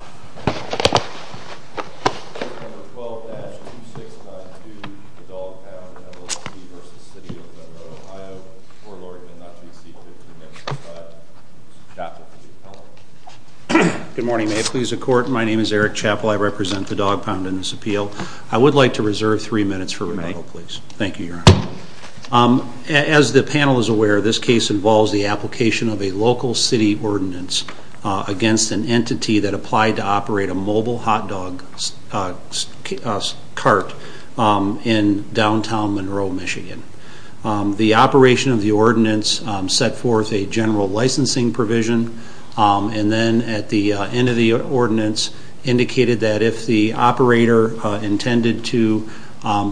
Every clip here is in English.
12-2692, the Dog Pound v. City of Monroe, Ohio, court ordinance, not to exceed 15 minutes, but Chappell to the appellant. Good morning, may it please the court. My name is Eric Chappell. I represent the Dog Pound in this appeal. I would like to reserve three minutes for rebuttal, please. Thank you, Your Honor. As the panel is aware, this case involves the application of a local city ordinance against an entity that applied to operate a mobile hot dog cart in downtown Monroe, Michigan. The operation of the ordinance set forth a general licensing provision, and then at the end of the ordinance indicated that if the operator intended to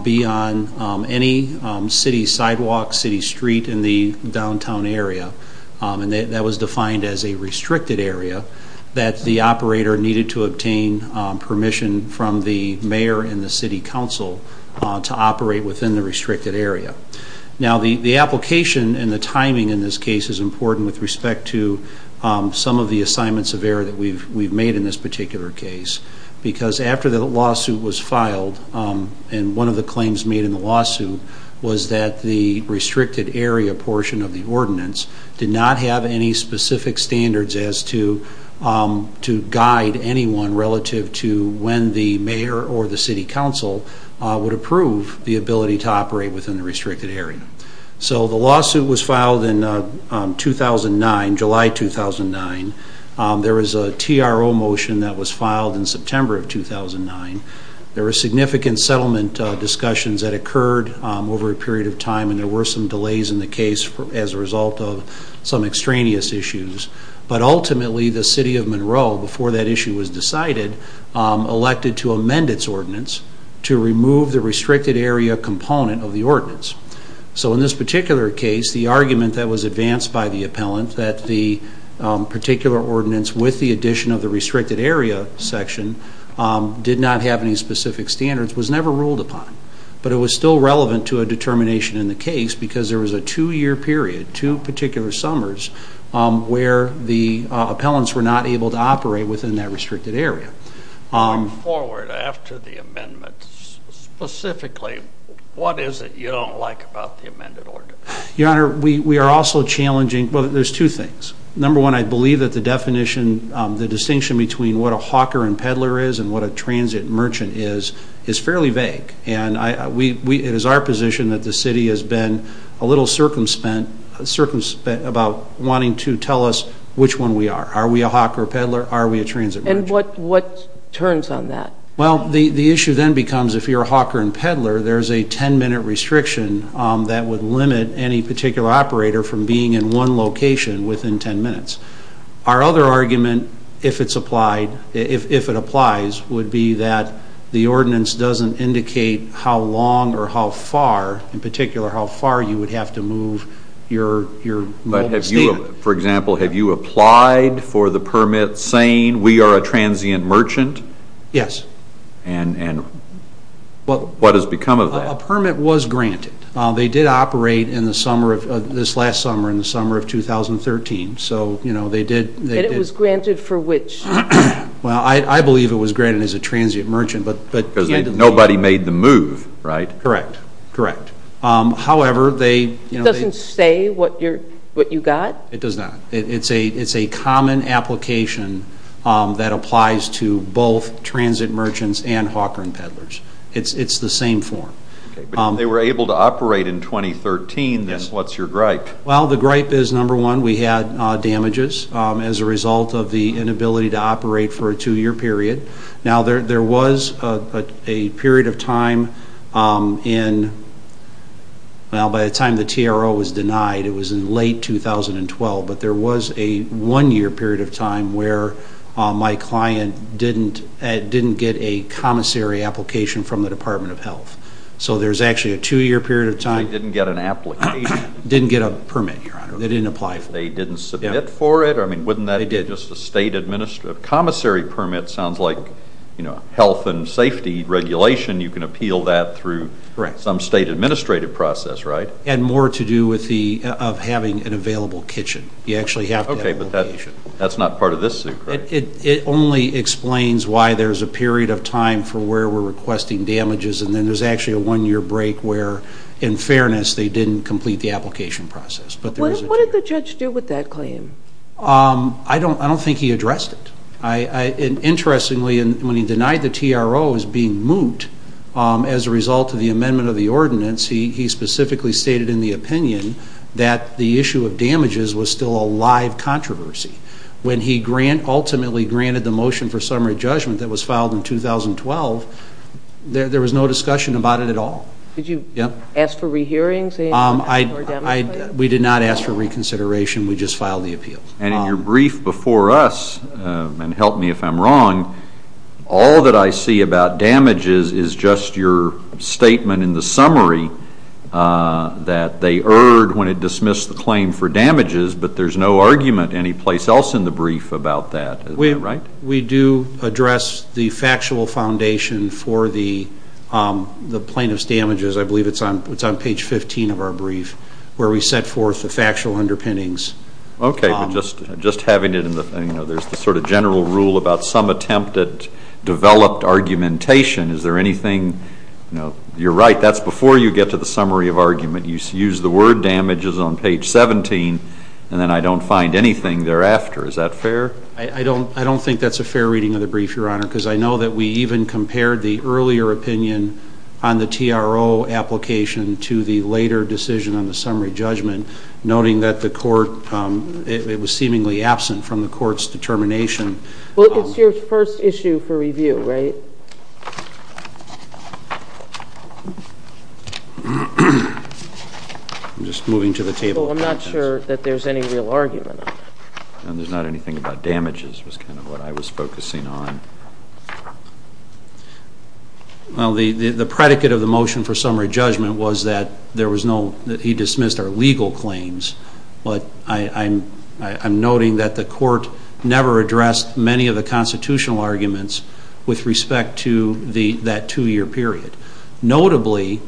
be on any city sidewalk, city street in the downtown area, and that was defined as a restricted area, that the operator needed to obtain permission from the mayor and the city council to operate within the restricted area. Now the application and the timing in this case is important with respect to some of the assignments of error that we've made in this particular case, because after the lawsuit was filed, and one of the claims made in the lawsuit was that the restricted area portion of the ordinance did not have any specific standards as to guide anyone relative to when the mayor or the city council would approve the ability to operate within the restricted area. So the lawsuit was filed in 2009, July 2009. There was a TRO motion that was filed in September of 2009. There were significant settlement discussions that occurred over a period of time, and there were some delays in the case as a result of some extraneous issues. But ultimately the city of Monroe, before that issue was decided, elected to amend its ordinance to remove the restricted area component of the ordinance. So in this particular case, the argument that was advanced by the appellant that the particular ordinance with the addition of the restricted area section did not have any specific standards was never ruled upon. But it was still relevant to a determination in the case because there was a two-year period, two particular summers, where the appellants were not able to operate within that restricted area. Going forward, after the amendment, specifically, what is it you don't like about the amended ordinance? Your Honor, we are also challenging, well, there's two things. Number one, I believe that the definition, the distinction between what a hawker and peddler is and what a transit merchant is, is fairly vague. And it is our position that the city has been a little circumspect about wanting to tell us which one we are. Are we a hawker or a peddler? Are we a transit merchant? And what turns on that? Well, the issue then becomes if you're a hawker and peddler, there's a 10-minute restriction that would limit any particular operator from being in one location within 10 minutes. Our other argument, if it's applied, if it applies, would be that the ordinance doesn't indicate how long or how far, in particular, how far you would have to move your mobile stand. But have you, for example, have you applied for the permit saying we are a transient merchant? Yes. And what has become of that? A permit was granted. They did operate this last summer in the summer of 2013. And it was granted for which? Well, I believe it was granted as a transient merchant. Because nobody made the move, right? Correct, correct. However, they... It doesn't say what you got? It does not. It's a common application that applies to both transit merchants and hawker and peddlers. It's the same form. They were able to operate in 2013. Yes. What's your gripe? Well, the gripe is, number one, we had damages as a result of the inability to operate for a two-year period. Now, there was a period of time in... Now, by the time the TRO was denied, it was in late 2012, but there was a one-year period of time where my client didn't get a commissary application from the Department of Health. So there's actually a two-year period of time... They didn't get an application? Didn't get a permit, Your Honor. They didn't apply for it. They didn't submit for it? I mean, wouldn't that be just a state administrative... They did. It sounds like health and safety regulation, you can appeal that through some state administrative process, right? And more to do with having an available kitchen. You actually have to have an application. Okay, but that's not part of this suit, correct? It only explains why there's a period of time for where we're requesting damages, and then there's actually a one-year break where, in fairness, they didn't complete the application process. What did the judge do with that claim? I don't think he addressed it. Interestingly, when he denied the TRO as being moot as a result of the amendment of the ordinance, he specifically stated in the opinion that the issue of damages was still a live controversy. When he ultimately granted the motion for summary judgment that was filed in 2012, there was no discussion about it at all. Did you ask for re-hearings? We did not ask for reconsideration. We just filed the appeal. And in your brief before us, and help me if I'm wrong, all that I see about damages is just your statement in the summary that they erred when it dismissed the claim for damages, but there's no argument anyplace else in the brief about that. Is that right? We do address the factual foundation for the plaintiff's damages. I believe it's on page 15 of our brief where we set forth the factual underpinnings. Okay, but just having it in the, you know, there's the sort of general rule about some attempt at developed argumentation. Is there anything, you know, you're right, that's before you get to the summary of argument. You use the word damages on page 17, and then I don't find anything thereafter. Is that fair? I don't think that's a fair reading of the brief, Your Honor, because I know that we even compared the earlier opinion on the TRO application to the later decision on the summary judgment, noting that the court, it was seemingly absent from the court's determination. Well, it's your first issue for review, right? I'm just moving to the table. Well, I'm not sure that there's any real argument on that. And there's not anything about damages was kind of what I was focusing on. Well, the predicate of the motion for summary judgment was that there was no, that he dismissed our legal claims. But I'm noting that the court never addressed many of the constitutional arguments with respect to that two-year period. Notably,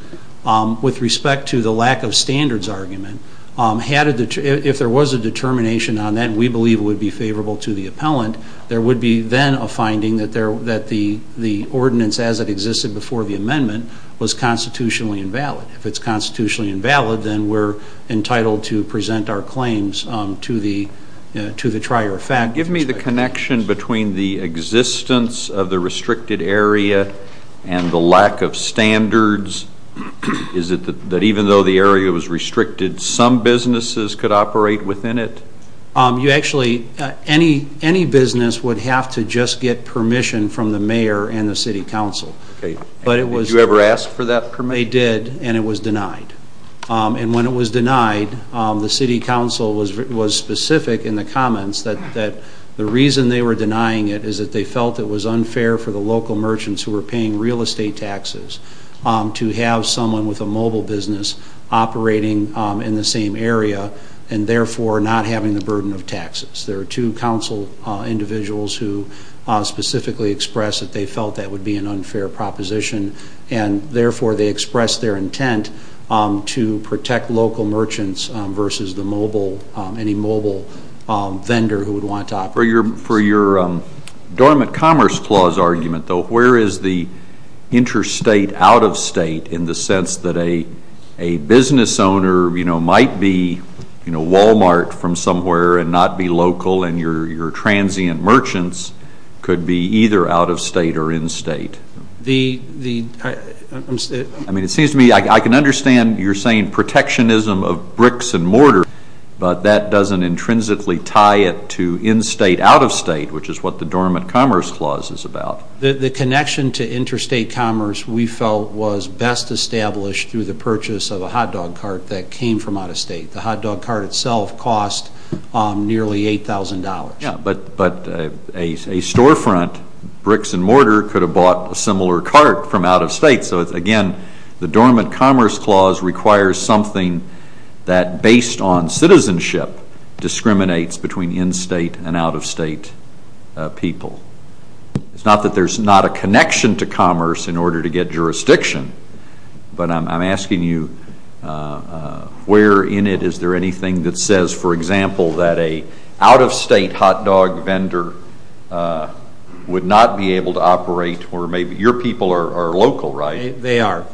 with respect to the lack of standards argument, if there was a determination on that, and we believe it would be favorable to the appellant, there would be then a finding that the ordinance as it existed before the amendment was constitutionally invalid. If it's constitutionally invalid, then we're entitled to present our claims to the trier effect. Give me the connection between the existence of the restricted area and the lack of standards. Is it that even though the area was restricted, some businesses could operate within it? You actually, any business would have to just get permission from the mayor and the city council. Did you ever ask for that permission? They did, and it was denied. And when it was denied, the city council was specific in the comments that the reason they were denying it is that they felt it was unfair for the local merchants who were paying real estate taxes to have someone with a mobile business operating in the same area and therefore not having the burden of taxes. There are two council individuals who specifically expressed that they felt that would be an unfair proposition, and therefore they expressed their intent to protect local merchants versus any mobile vendor who would want to operate. For your dormant commerce clause argument, though, where is the interstate out-of-state in the sense that a business owner might be Wal-Mart from somewhere and not be local and your transient merchants could be either out-of-state or in-state? I mean, it seems to me I can understand your saying protectionism of bricks and mortar, but that doesn't intrinsically tie it to in-state, out-of-state, which is what the dormant commerce clause is about. The connection to interstate commerce we felt was best established through the purchase of a hot dog cart that came from out-of-state. The hot dog cart itself cost nearly $8,000. Yes, but a storefront, bricks and mortar, could have bought a similar cart from out-of-state. So, again, the dormant commerce clause requires something that, based on citizenship, discriminates between in-state and out-of-state people. It's not that there's not a connection to commerce in order to get jurisdiction, but I'm asking you where in it is there anything that says, for example, that an out-of-state hot dog vendor would not be able to operate or maybe your people are local, right? They are.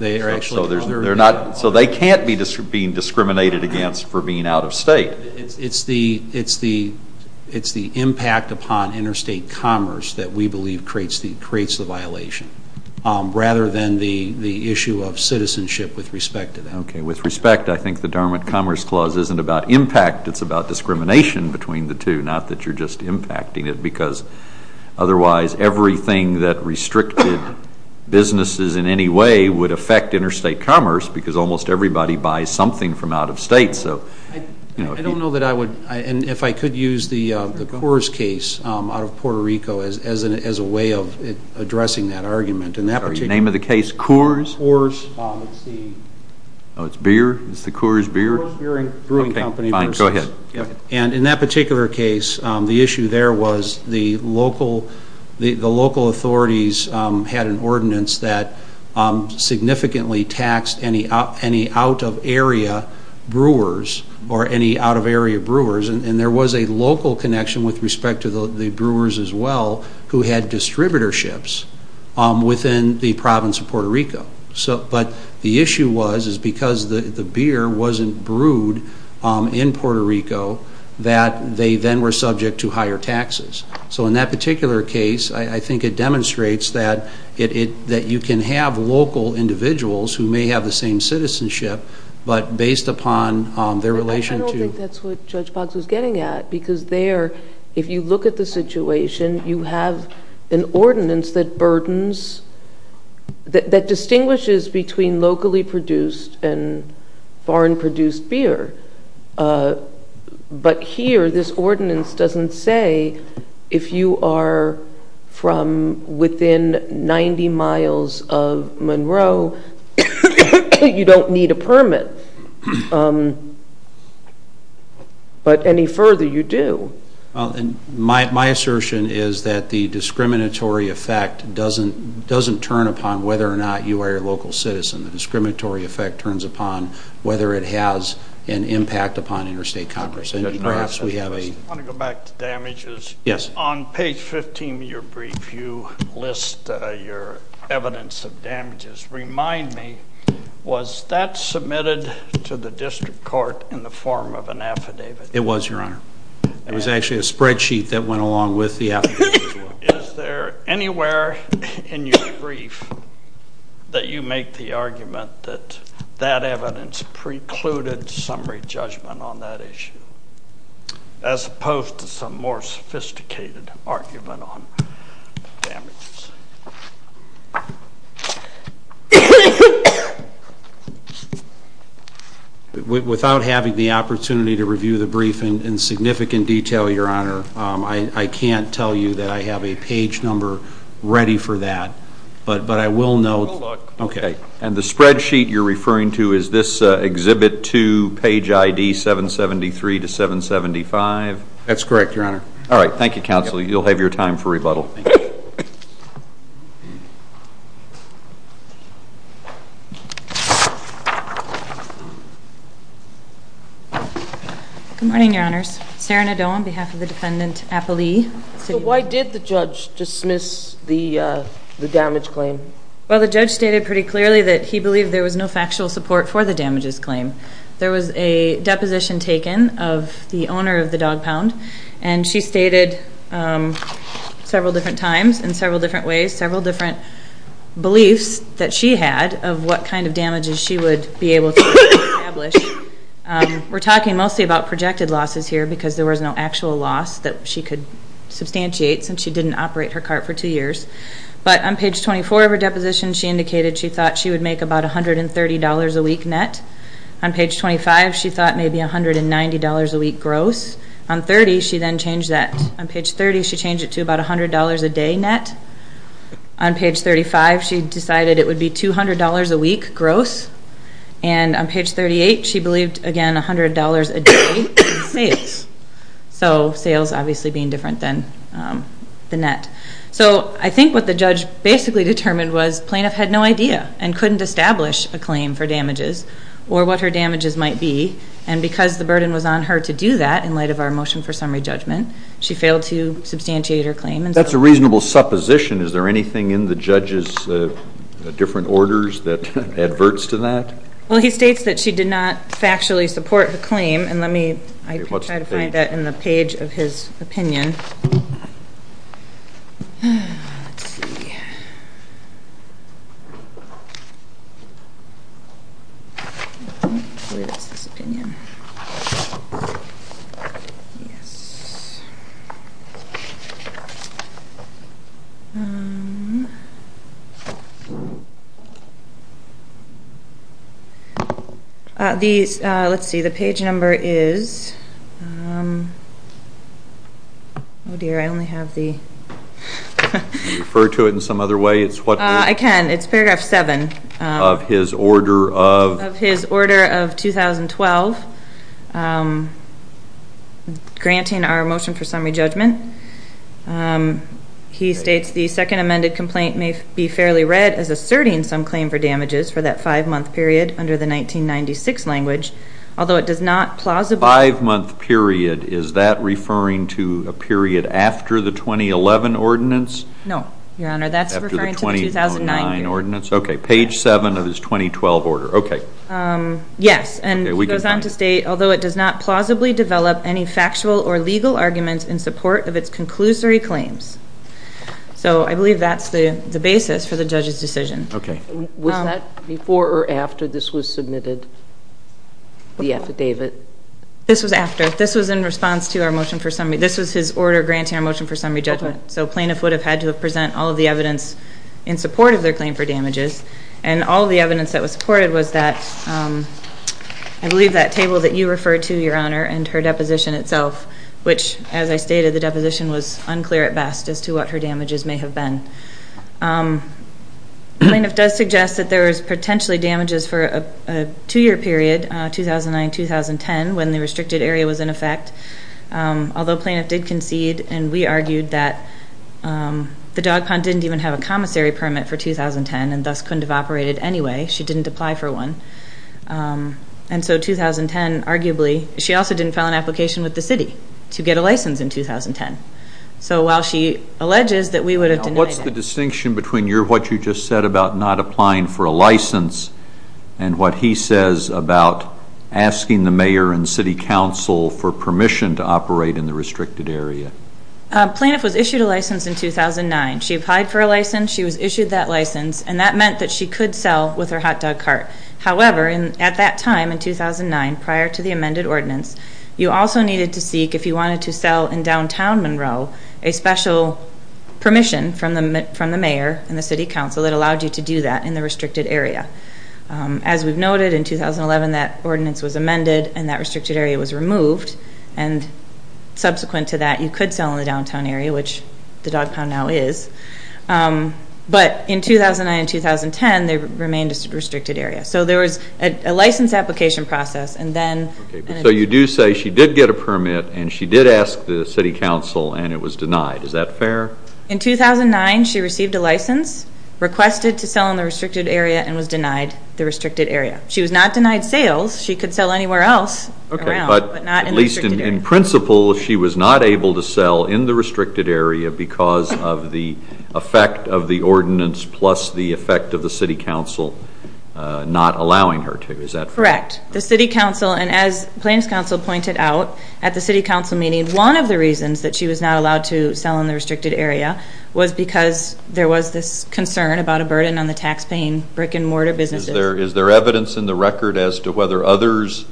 So they can't be being discriminated against for being out-of-state. It's the impact upon interstate commerce that we believe creates the violation, rather than the issue of citizenship with respect to that. Okay, with respect, I think the dormant commerce clause isn't about impact. It's about discrimination between the two, not that you're just impacting it, because otherwise everything that restricted businesses in any way would affect interstate commerce because almost everybody buys something from out-of-state. I don't know that I would, and if I could use the Coors case out of Puerto Rico as a way of addressing that argument. Sorry, the name of the case, Coors? Coors. Oh, it's beer? It's the Coors beer? Fine, go ahead. And in that particular case, the issue there was the local authorities had an ordinance that significantly taxed any out-of-area brewers or any out-of-area brewers, and there was a local connection with respect to the brewers as well who had distributorships within the province of Puerto Rico. But the issue was, is because the beer wasn't brewed in Puerto Rico, that they then were subject to higher taxes. So in that particular case, I think it demonstrates that you can have local individuals who may have the same citizenship, but based upon their relation to... I don't think that's what Judge Boggs was getting at, because there, if you look at the situation, you have an ordinance that burdens, that distinguishes between locally produced and foreign produced beer. But here, this ordinance doesn't say if you are from within 90 miles of Monroe, you don't need a permit. But any further, you do. My assertion is that the discriminatory effect doesn't turn upon whether or not you are a local citizen. The discriminatory effect turns upon whether it has an impact upon interstate commerce. I want to go back to damages. Yes. On page 15 of your brief, you list your evidence of damages. Remind me, was that submitted to the district court in the form of an affidavit? It was, Your Honor. It was actually a spreadsheet that went along with the affidavit as well. Is there anywhere in your brief that you make the argument that that evidence precluded summary judgment on that issue, as opposed to some more sophisticated argument on damages? Without having the opportunity to review the brief in significant detail, Your Honor, I can't tell you that I have a page number ready for that. But I will note. And the spreadsheet you're referring to, is this Exhibit 2, page ID 773 to 775? That's correct, Your Honor. All right. Thank you, Counsel. You'll have your time for rebuttal. Thank you. Good morning, Your Honors. Sarah Nadeau on behalf of the Defendant Appelee. So why did the judge dismiss the damage claim? Well, the judge stated pretty clearly that he believed there was no factual support for the damages claim. There was a deposition taken of the owner of the Dog Pound. And she stated several different times, in several different ways, several different beliefs that she had of what kind of damages she would be able to establish. We're talking mostly about projected losses here because there was no actual loss that she could substantiate since she didn't operate her cart for two years. But on page 24 of her deposition, she indicated she thought she would make about $130 a week net. On page 25, she thought maybe $190 a week gross. On page 30, she changed it to about $100 a day net. On page 35, she decided it would be $200 a week gross. And on page 38, she believed, again, $100 a day in sales. So sales obviously being different than the net. So I think what the judge basically determined was the plaintiff had no idea and couldn't establish a claim for damages or what her damages might be. And because the burden was on her to do that in light of our motion for summary judgment, she failed to substantiate her claim. That's a reasonable supposition. Is there anything in the judge's different orders that adverts to that? Well, he states that she did not factually support the claim. And let me try to find that in the page of his opinion. Let's see. I believe it's this opinion. Yes. All right. Let's see. The page number is. Oh, dear, I only have the. Can you refer to it in some other way? I can. It's paragraph 7. Of his order of? 2012. Granting our motion for summary judgment. He states the second amended complaint may be fairly read as asserting some claim for damages for that five-month period under the 1996 language, although it does not plausibly. Five-month period. Is that referring to a period after the 2011 ordinance? No, Your Honor. That's referring to the 2009 ordinance. Okay. Page 7 of his 2012 order. Okay. Yes. And he goes on to state, although it does not plausibly develop any factual or legal arguments in support of its conclusory claims. So I believe that's the basis for the judge's decision. Okay. Was that before or after this was submitted, the affidavit? This was after. This was in response to our motion for summary. This was his order granting our motion for summary judgment. So plaintiff would have had to present all of the evidence in support of their claim for damages. And all of the evidence that was supported was that, I believe, that table that you referred to, Your Honor, and her deposition itself, which as I stated the deposition was unclear at best as to what her damages may have been. Plaintiff does suggest that there was potentially damages for a two-year period, 2009-2010, when the restricted area was in effect, although plaintiff did concede and we argued that the dog pond didn't even have a commissary permit for 2010 and thus couldn't have operated anyway. She didn't apply for one. And so 2010, arguably, she also didn't file an application with the city to get a license in 2010. So while she alleges that we would have denied it. What's the distinction between what you just said about not applying for a license and what he says about asking the mayor and city council for permission to operate in the restricted area? Plaintiff was issued a license in 2009. She applied for a license. She was issued that license, and that meant that she could sell with her hot dog cart. However, at that time in 2009, prior to the amended ordinance, you also needed to seek, if you wanted to sell in downtown Monroe, a special permission from the mayor and the city council that allowed you to do that in the restricted area. As we've noted, in 2011 that ordinance was amended and that restricted area was removed, and subsequent to that, you could sell in the downtown area, which the dog pound now is. But in 2009 and 2010, they remained a restricted area. So there was a license application process, and then. So you do say she did get a permit, and she did ask the city council, and it was denied. Is that fair? In 2009, she received a license, requested to sell in the restricted area, and was denied the restricted area. She was not denied sales. She could sell anywhere else around, but not in the restricted area. But at least in principle, she was not able to sell in the restricted area because of the effect of the ordinance plus the effect of the city council not allowing her to. Is that correct? Correct. The city council, and as Plans Council pointed out at the city council meeting, one of the reasons that she was not allowed to sell in the restricted area was because there was this concern about a burden on the taxpaying brick-and-mortar businesses. Is there evidence in the record as to whether others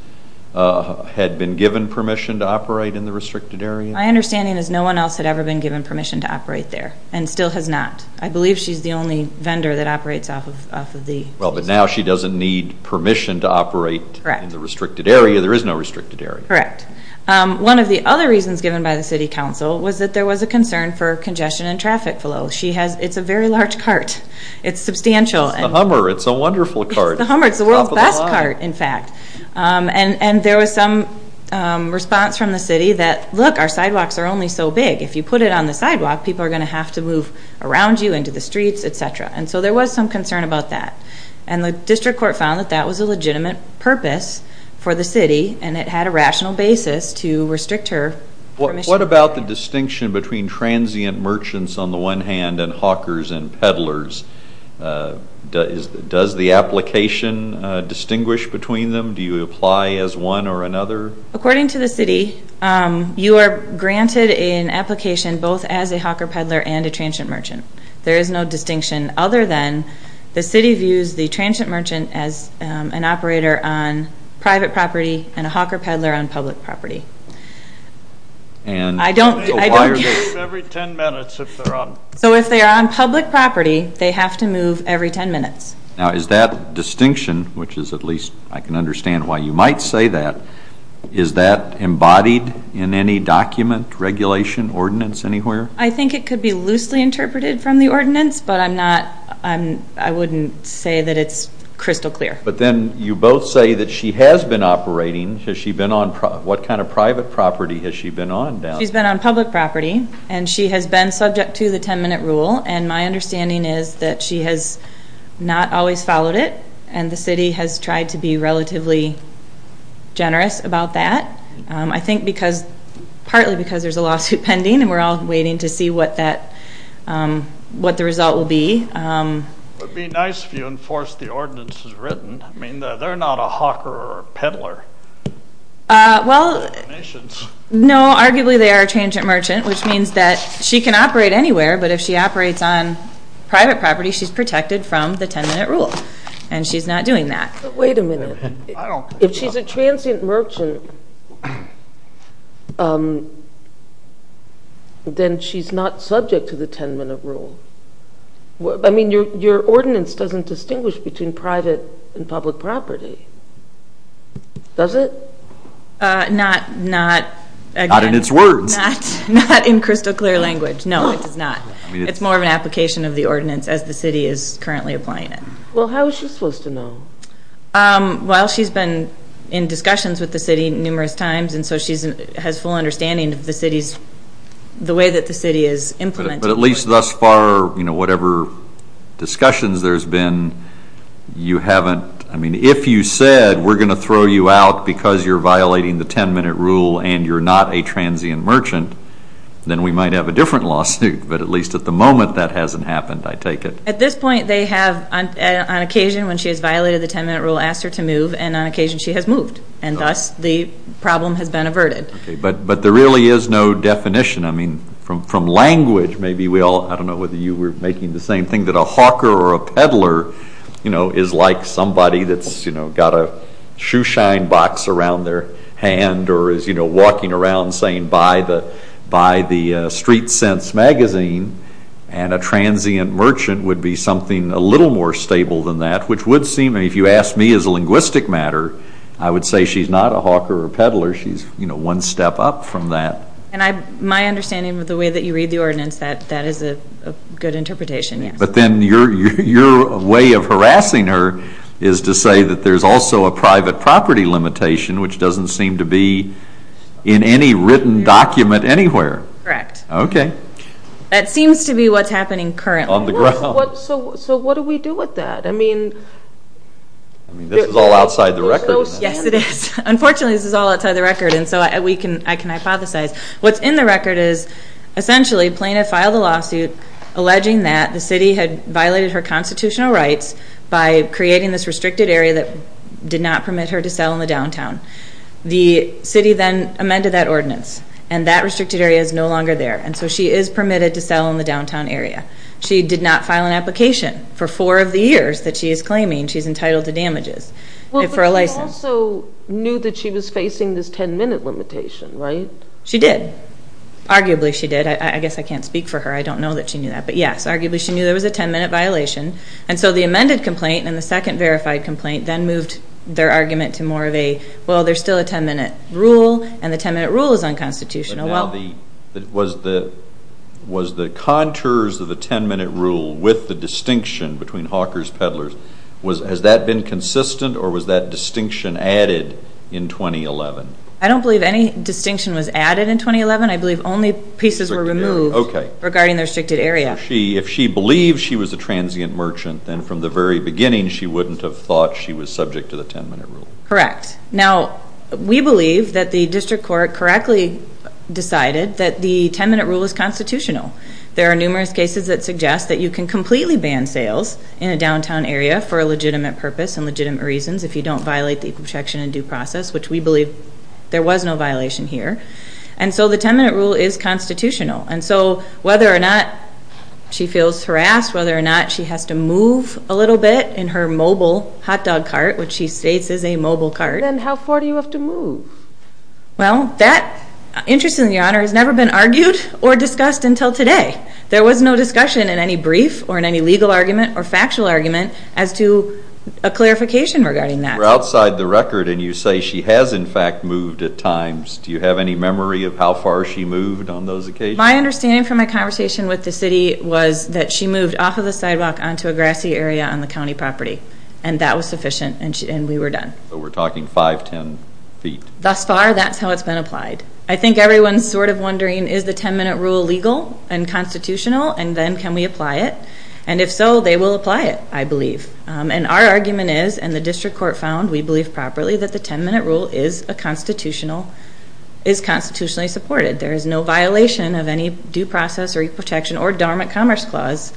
had been given permission to operate in the restricted area? My understanding is no one else had ever been given permission to operate there, and still has not. I believe she's the only vendor that operates off of the. Well, but now she doesn't need permission to operate in the restricted area. There is no restricted area. Correct. One of the other reasons given by the city council was that there was a concern for congestion and traffic flow. It's a very large cart. It's substantial. It's the Hummer. It's a wonderful cart. It's the Hummer. It's the world's best cart, in fact. And there was some response from the city that, look, our sidewalks are only so big. If you put it on the sidewalk, people are going to have to move around you, into the streets, et cetera. And so there was some concern about that. And the district court found that that was a legitimate purpose for the city, and it had a rational basis to restrict her permission. What about the distinction between transient merchants, on the one hand, and hawkers and peddlers? Does the application distinguish between them? Do you apply as one or another? According to the city, you are granted an application both as a hawker peddler and a transient merchant. There is no distinction other than the city views the transient merchant as an operator on private property and a hawker peddler on public property. Why are they moved every 10 minutes if they're on public property? So if they're on public property, they have to move every 10 minutes. Now, is that distinction, which is at least I can understand why you might say that, is that embodied in any document, regulation, ordinance anywhere? I think it could be loosely interpreted from the ordinance, but I wouldn't say that it's crystal clear. But then you both say that she has been operating. What kind of private property has she been on? She's been on public property, and she has been subject to the 10-minute rule. And my understanding is that she has not always followed it, and the city has tried to be relatively generous about that, I think partly because there's a lawsuit pending, and we're all waiting to see what the result will be. It would be nice if you enforced the ordinance as written. I mean, they're not a hawker or a peddler. Well, no, arguably they are a transient merchant, which means that she can operate anywhere, but if she operates on private property, she's protected from the 10-minute rule, and she's not doing that. Wait a minute. If she's a transient merchant, then she's not subject to the 10-minute rule. I mean, your ordinance doesn't distinguish between private and public property, does it? Not in its words. Not in crystal clear language, no, it does not. It's more of an application of the ordinance as the city is currently applying it. Well, how is she supposed to know? Well, she's been in discussions with the city numerous times, and so she has full understanding of the city's, the way that the city is implementing it. But at least thus far, you know, whatever discussions there's been, you haven't, I mean, if you said we're going to throw you out because you're violating the 10-minute rule and you're not a transient merchant, then we might have a different lawsuit, but at least at the moment that hasn't happened, I take it. At this point, they have, on occasion when she has violated the 10-minute rule, asked her to move, and on occasion she has moved, and thus the problem has been averted. Okay, but there really is no definition. I mean, from language, maybe we all, I don't know whether you were making the same thing, that a hawker or a peddler, you know, is like somebody that's, you know, got a shoeshine box around their hand or is, you know, walking around saying, buy the Street Sense magazine, and a transient merchant would be something a little more stable than that, which would seem, if you ask me as a linguistic matter, I would say she's not a hawker or a peddler. She's, you know, one step up from that. And my understanding of the way that you read the ordinance, that is a good interpretation, yes. But then your way of harassing her is to say that there's also a private property limitation, which doesn't seem to be in any written document anywhere. Correct. Okay. That seems to be what's happening currently. On the ground. So what do we do with that? I mean, this is all outside the record. Yes, it is. Unfortunately, this is all outside the record, and so I can hypothesize. What's in the record is essentially a plaintiff filed a lawsuit alleging that the city had violated her constitutional rights by creating this restricted area that did not permit her to sell in the downtown. The city then amended that ordinance, and that restricted area is no longer there, and so she is permitted to sell in the downtown area. She did not file an application for four of the years that she is claiming she's entitled to damages for a license. But she also knew that she was facing this 10-minute limitation, right? She did. Arguably she did. I guess I can't speak for her. I don't know that she knew that. But, yes, arguably she knew there was a 10-minute violation. And so the amended complaint and the second verified complaint then moved their argument to more of a, well, there's still a 10-minute rule, and the 10-minute rule is unconstitutional. Was the contours of the 10-minute rule with the distinction between hawkers, peddlers, has that been consistent, or was that distinction added in 2011? I don't believe any distinction was added in 2011. I believe only pieces were removed regarding the restricted area. If she believed she was a transient merchant, then from the very beginning she wouldn't have thought she was subject to the 10-minute rule. Correct. Now, we believe that the district court correctly decided that the 10-minute rule is constitutional. There are numerous cases that suggest that you can completely ban sales in a downtown area for a legitimate purpose and legitimate reasons if you don't violate the Equal Protection and Due Process, which we believe there was no violation here. And so the 10-minute rule is constitutional. And so whether or not she feels harassed, whether or not she has to move a little bit in her mobile hot dog cart, which she states is a mobile cart. Then how far do you have to move? Well, that, interestingly, Your Honor, has never been argued or discussed until today. There was no discussion in any brief or in any legal argument or factual argument as to a clarification regarding that. You're outside the record, and you say she has, in fact, moved at times. Do you have any memory of how far she moved on those occasions? My understanding from my conversation with the city was that she moved off of the sidewalk onto a grassy area on the county property, and that was sufficient, and we were done. So we're talking 5, 10 feet. Thus far, that's how it's been applied. I think everyone's sort of wondering, is the 10-minute rule legal and constitutional, and then can we apply it? And if so, they will apply it, I believe. And our argument is, and the district court found, we believe properly, that the 10-minute rule is constitutionally supported. There is no violation of any due process or equal protection or dormant commerce clause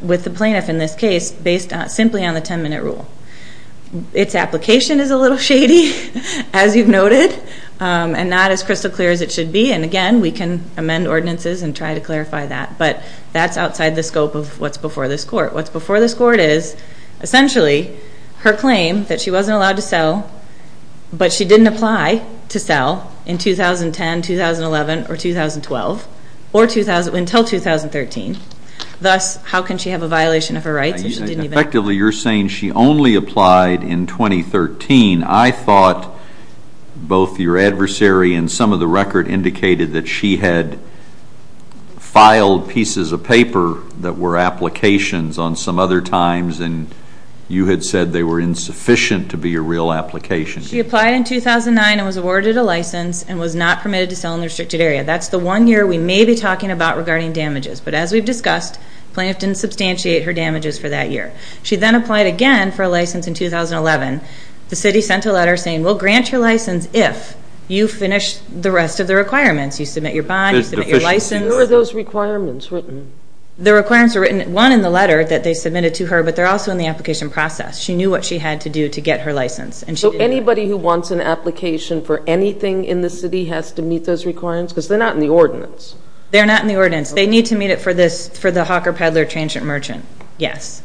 with the plaintiff in this case based simply on the 10-minute rule. Its application is a little shady, as you've noted, and not as crystal clear as it should be. And again, we can amend ordinances and try to clarify that, but that's outside the scope of what's before this court. What's before this court is, essentially, her claim that she wasn't allowed to sell, but she didn't apply to sell in 2010, 2011, or 2012, or until 2013. Thus, how can she have a violation of her rights if she didn't even apply? Effectively, you're saying she only applied in 2013. I thought both your adversary and some of the record indicated that she had filed pieces of paper that were applications on some other times, and you had said they were insufficient to be a real application. She applied in 2009 and was awarded a license and was not permitted to sell in the restricted area. That's the one year we may be talking about regarding damages. But as we've discussed, the plaintiff didn't substantiate her damages for that year. She then applied again for a license in 2011. The city sent a letter saying, we'll grant your license if you finish the rest of the requirements. You submit your bond, you submit your license. Who are those requirements written? The requirements are written, one, in the letter that they submitted to her, but they're also in the application process. She knew what she had to do to get her license. So anybody who wants an application for anything in the city has to meet those requirements? Because they're not in the ordinance. They're not in the ordinance. They need to meet it for the Hawker Peddler Transient Merchant, yes.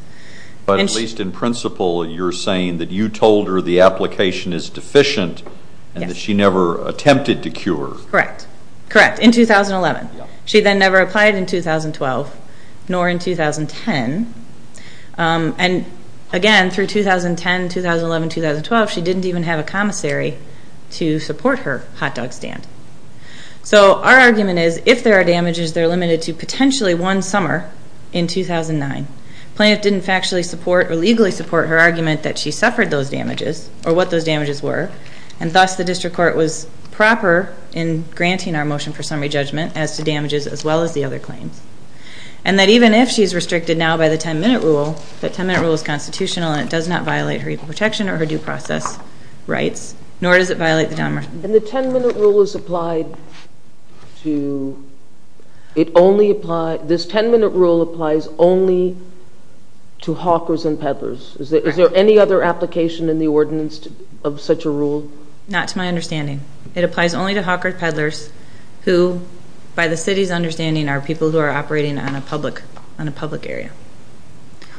But at least in principle, you're saying that you told her the application is deficient and that she never attempted to cure. Correct, correct, in 2011. She then never applied in 2012, nor in 2010. And again, through 2010, 2011, 2012, she didn't even have a commissary to support her hot dog stand. So our argument is, if there are damages, they're limited to potentially one summer in 2009. The plaintiff didn't factually support or legally support her argument that she suffered those damages or what those damages were, and thus the district court was proper in granting our motion for summary judgment as to damages as well as the other claims, and that even if she's restricted now by the 10-minute rule, that 10-minute rule is constitutional and it does not violate her legal protection or her due process rights, nor does it violate the down motion. And the 10-minute rule is applied toóit only appliesóthis 10-minute rule applies only to hawkers and peddlers. Is there any other application in the ordinance of such a rule? Not to my understanding. It applies only to hawkers and peddlers who, by the city's understanding, are people who are operating on a public area.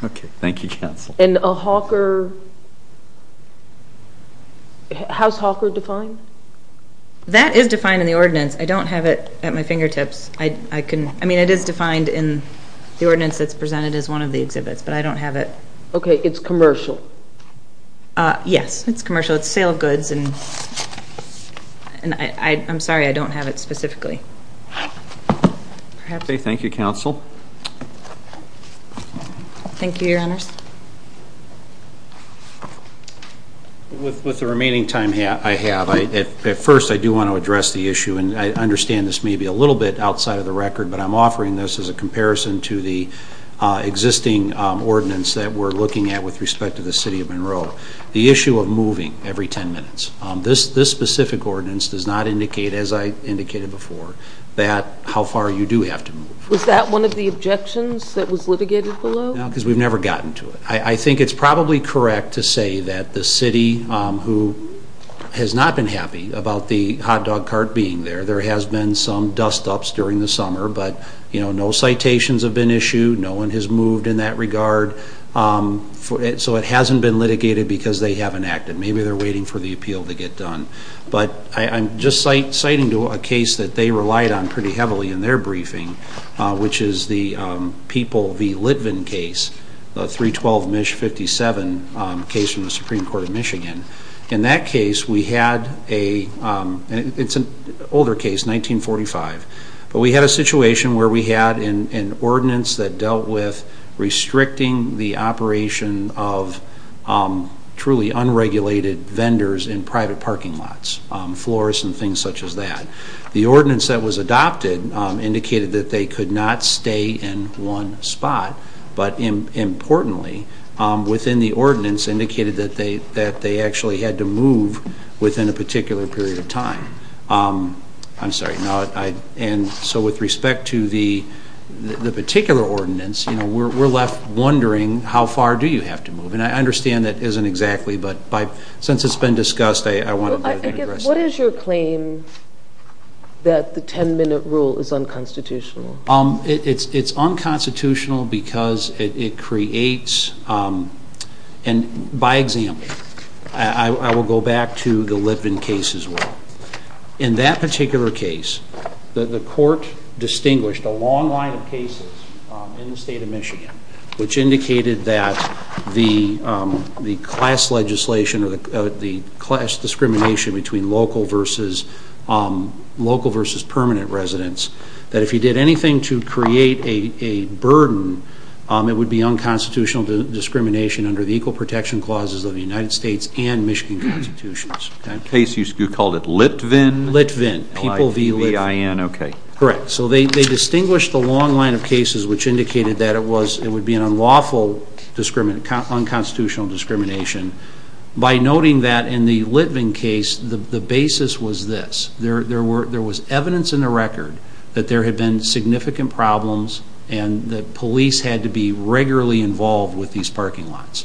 Okay, thank you, counsel. And a hawkeróhow's hawker defined? That is defined in the ordinance. I don't have it at my fingertips. I mean, it is defined in the ordinance that's presented as one of the exhibits, but I don't have it. Okay, it's commercial. Yes, it's commercial. It's a sale of goods, and I'm sorry, I don't have it specifically. Okay, thank you, counsel. Thank you, Your Honors. With the remaining time I have, at first I do want to address the issue, and I understand this may be a little bit outside of the record, but I'm offering this as a comparison to the existing ordinance that we're looking at with respect to the city of Monroe. The issue of moving every 10 minutes. This specific ordinance does not indicate, as I indicated before, how far you do have to move. Was that one of the objections that was litigated below? No, because we've never gotten to it. I think it's probably correct to say that the city, who has not been happy about the hot dog cart being thereó during the summer, but no citations have been issued. No one has moved in that regard. So it hasn't been litigated because they haven't acted. Maybe they're waiting for the appeal to get done. But I'm just citing a case that they relied on pretty heavily in their briefing, which is the People v. Litvin case, the 312 MISH 57 case from the Supreme Court of Michigan. In that case, we had aóit's an older case, 1945ó but we had a situation where we had an ordinance that dealt with restricting the operation of truly unregulated vendors in private parking lots, floors and things such as that. The ordinance that was adopted indicated that they could not stay in one spot, but importantly, within the ordinance indicated that they actually had to move within a particular period of time. I'm sorry. So with respect to the particular ordinance, we're left wondering, how far do you have to move? And I understand that isn't exactly, but since it's been discussed, I want toó What is your claim that the 10-minute rule is unconstitutional? It's unconstitutional because it createsóand by example, I will go back to the Litvin case as well. In that particular case, the court distinguished a long line of cases in the state of Michigan which indicated that the class legislation or the class discrimination between local versus permanent residents, that if you did anything to create a burden, it would be unconstitutional discrimination under the Equal Protection Clauses of the United States and Michigan constitutions. That case, you called it Litvin? Litvin, L-I-V-I-N, okay. Correct. So they distinguished a long line of cases which indicated that it would be an unlawful, unconstitutional discrimination by noting that in the Litvin case, the basis was this. There was evidence in the record that there had been significant problems and that police had to be regularly involved with these parking lots.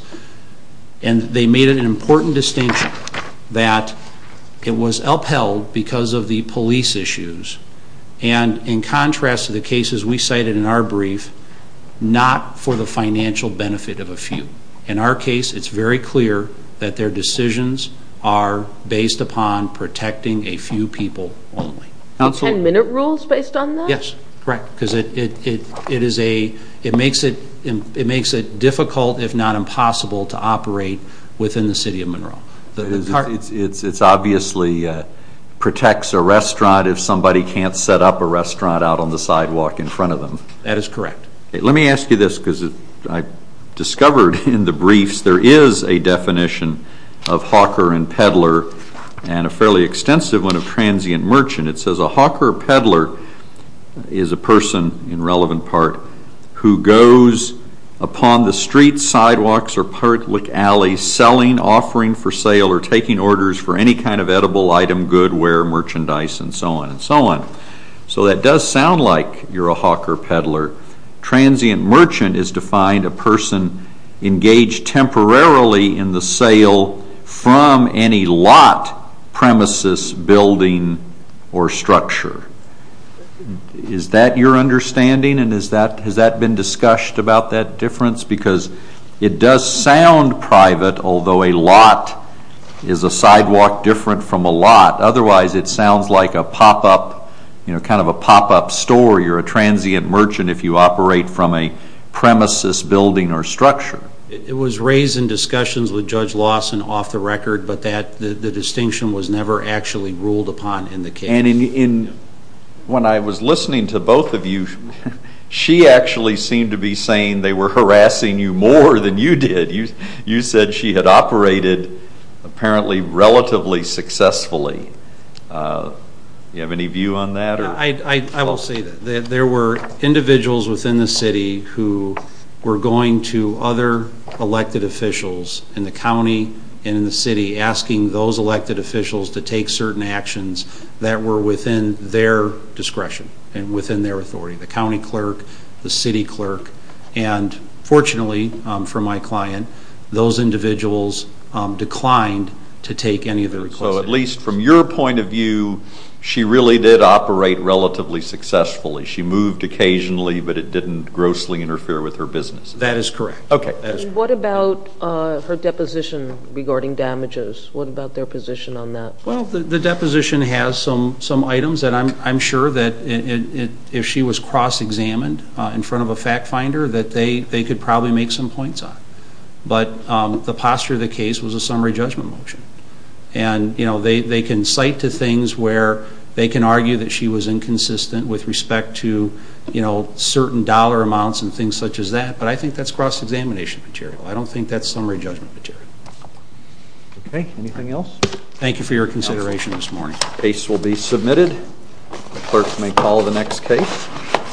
And they made an important distinction that it was upheld because of the police issues and in contrast to the cases we cited in our brief, not for the financial benefit of a few. In our case, it's very clear that their decisions are based upon protecting a few people only. Ten-minute rules based on that? Yes, correct, because it makes it difficult, if not impossible, to operate within the city of Monroe. It obviously protects a restaurant if somebody can't set up a restaurant out on the sidewalk in front of them. That is correct. Let me ask you this because I discovered in the briefs there is a definition of hawker and peddler and a fairly extensive one of transient merchant. It says a hawker or peddler is a person, in relevant part, who goes upon the streets, sidewalks, or public alleys selling, offering for sale, or taking orders for any kind of edible item, goodware, merchandise, and so on and so on. So that does sound like you're a hawker or peddler. Transient merchant is defined as a person engaged temporarily in the sale from any lot, premises, building, or structure. Is that your understanding, and has that been discussed about that difference? Because it does sound private, although a lot is a sidewalk different from a lot. Otherwise, it sounds like a pop-up, kind of a pop-up store. You're a transient merchant if you operate from a premises, building, or structure. It was raised in discussions with Judge Lawson off the record, but the distinction was never actually ruled upon in the case. When I was listening to both of you, she actually seemed to be saying they were harassing you more than you did. You said she had operated, apparently, relatively successfully. Do you have any view on that? I will say that. There were individuals within the city who were going to other elected officials in the county and in the city asking those elected officials to take certain actions that were within their discretion and within their authority, the county clerk, the city clerk. And fortunately for my client, those individuals declined to take any of the requisites. So at least from your point of view, she really did operate relatively successfully. She moved occasionally, but it didn't grossly interfere with her business. That is correct. Okay. What about her deposition regarding damages? What about their position on that? Well, the deposition has some items that I'm sure that if she was cross-examined in front of a fact finder that they could probably make some points on. But the posture of the case was a summary judgment motion. And they can cite to things where they can argue that she was inconsistent with respect to certain dollar amounts and things such as that, but I think that's cross-examination material. I don't think that's summary judgment material. Okay. Thank you for your consideration this morning. The case will be submitted. The clerk may call the next case.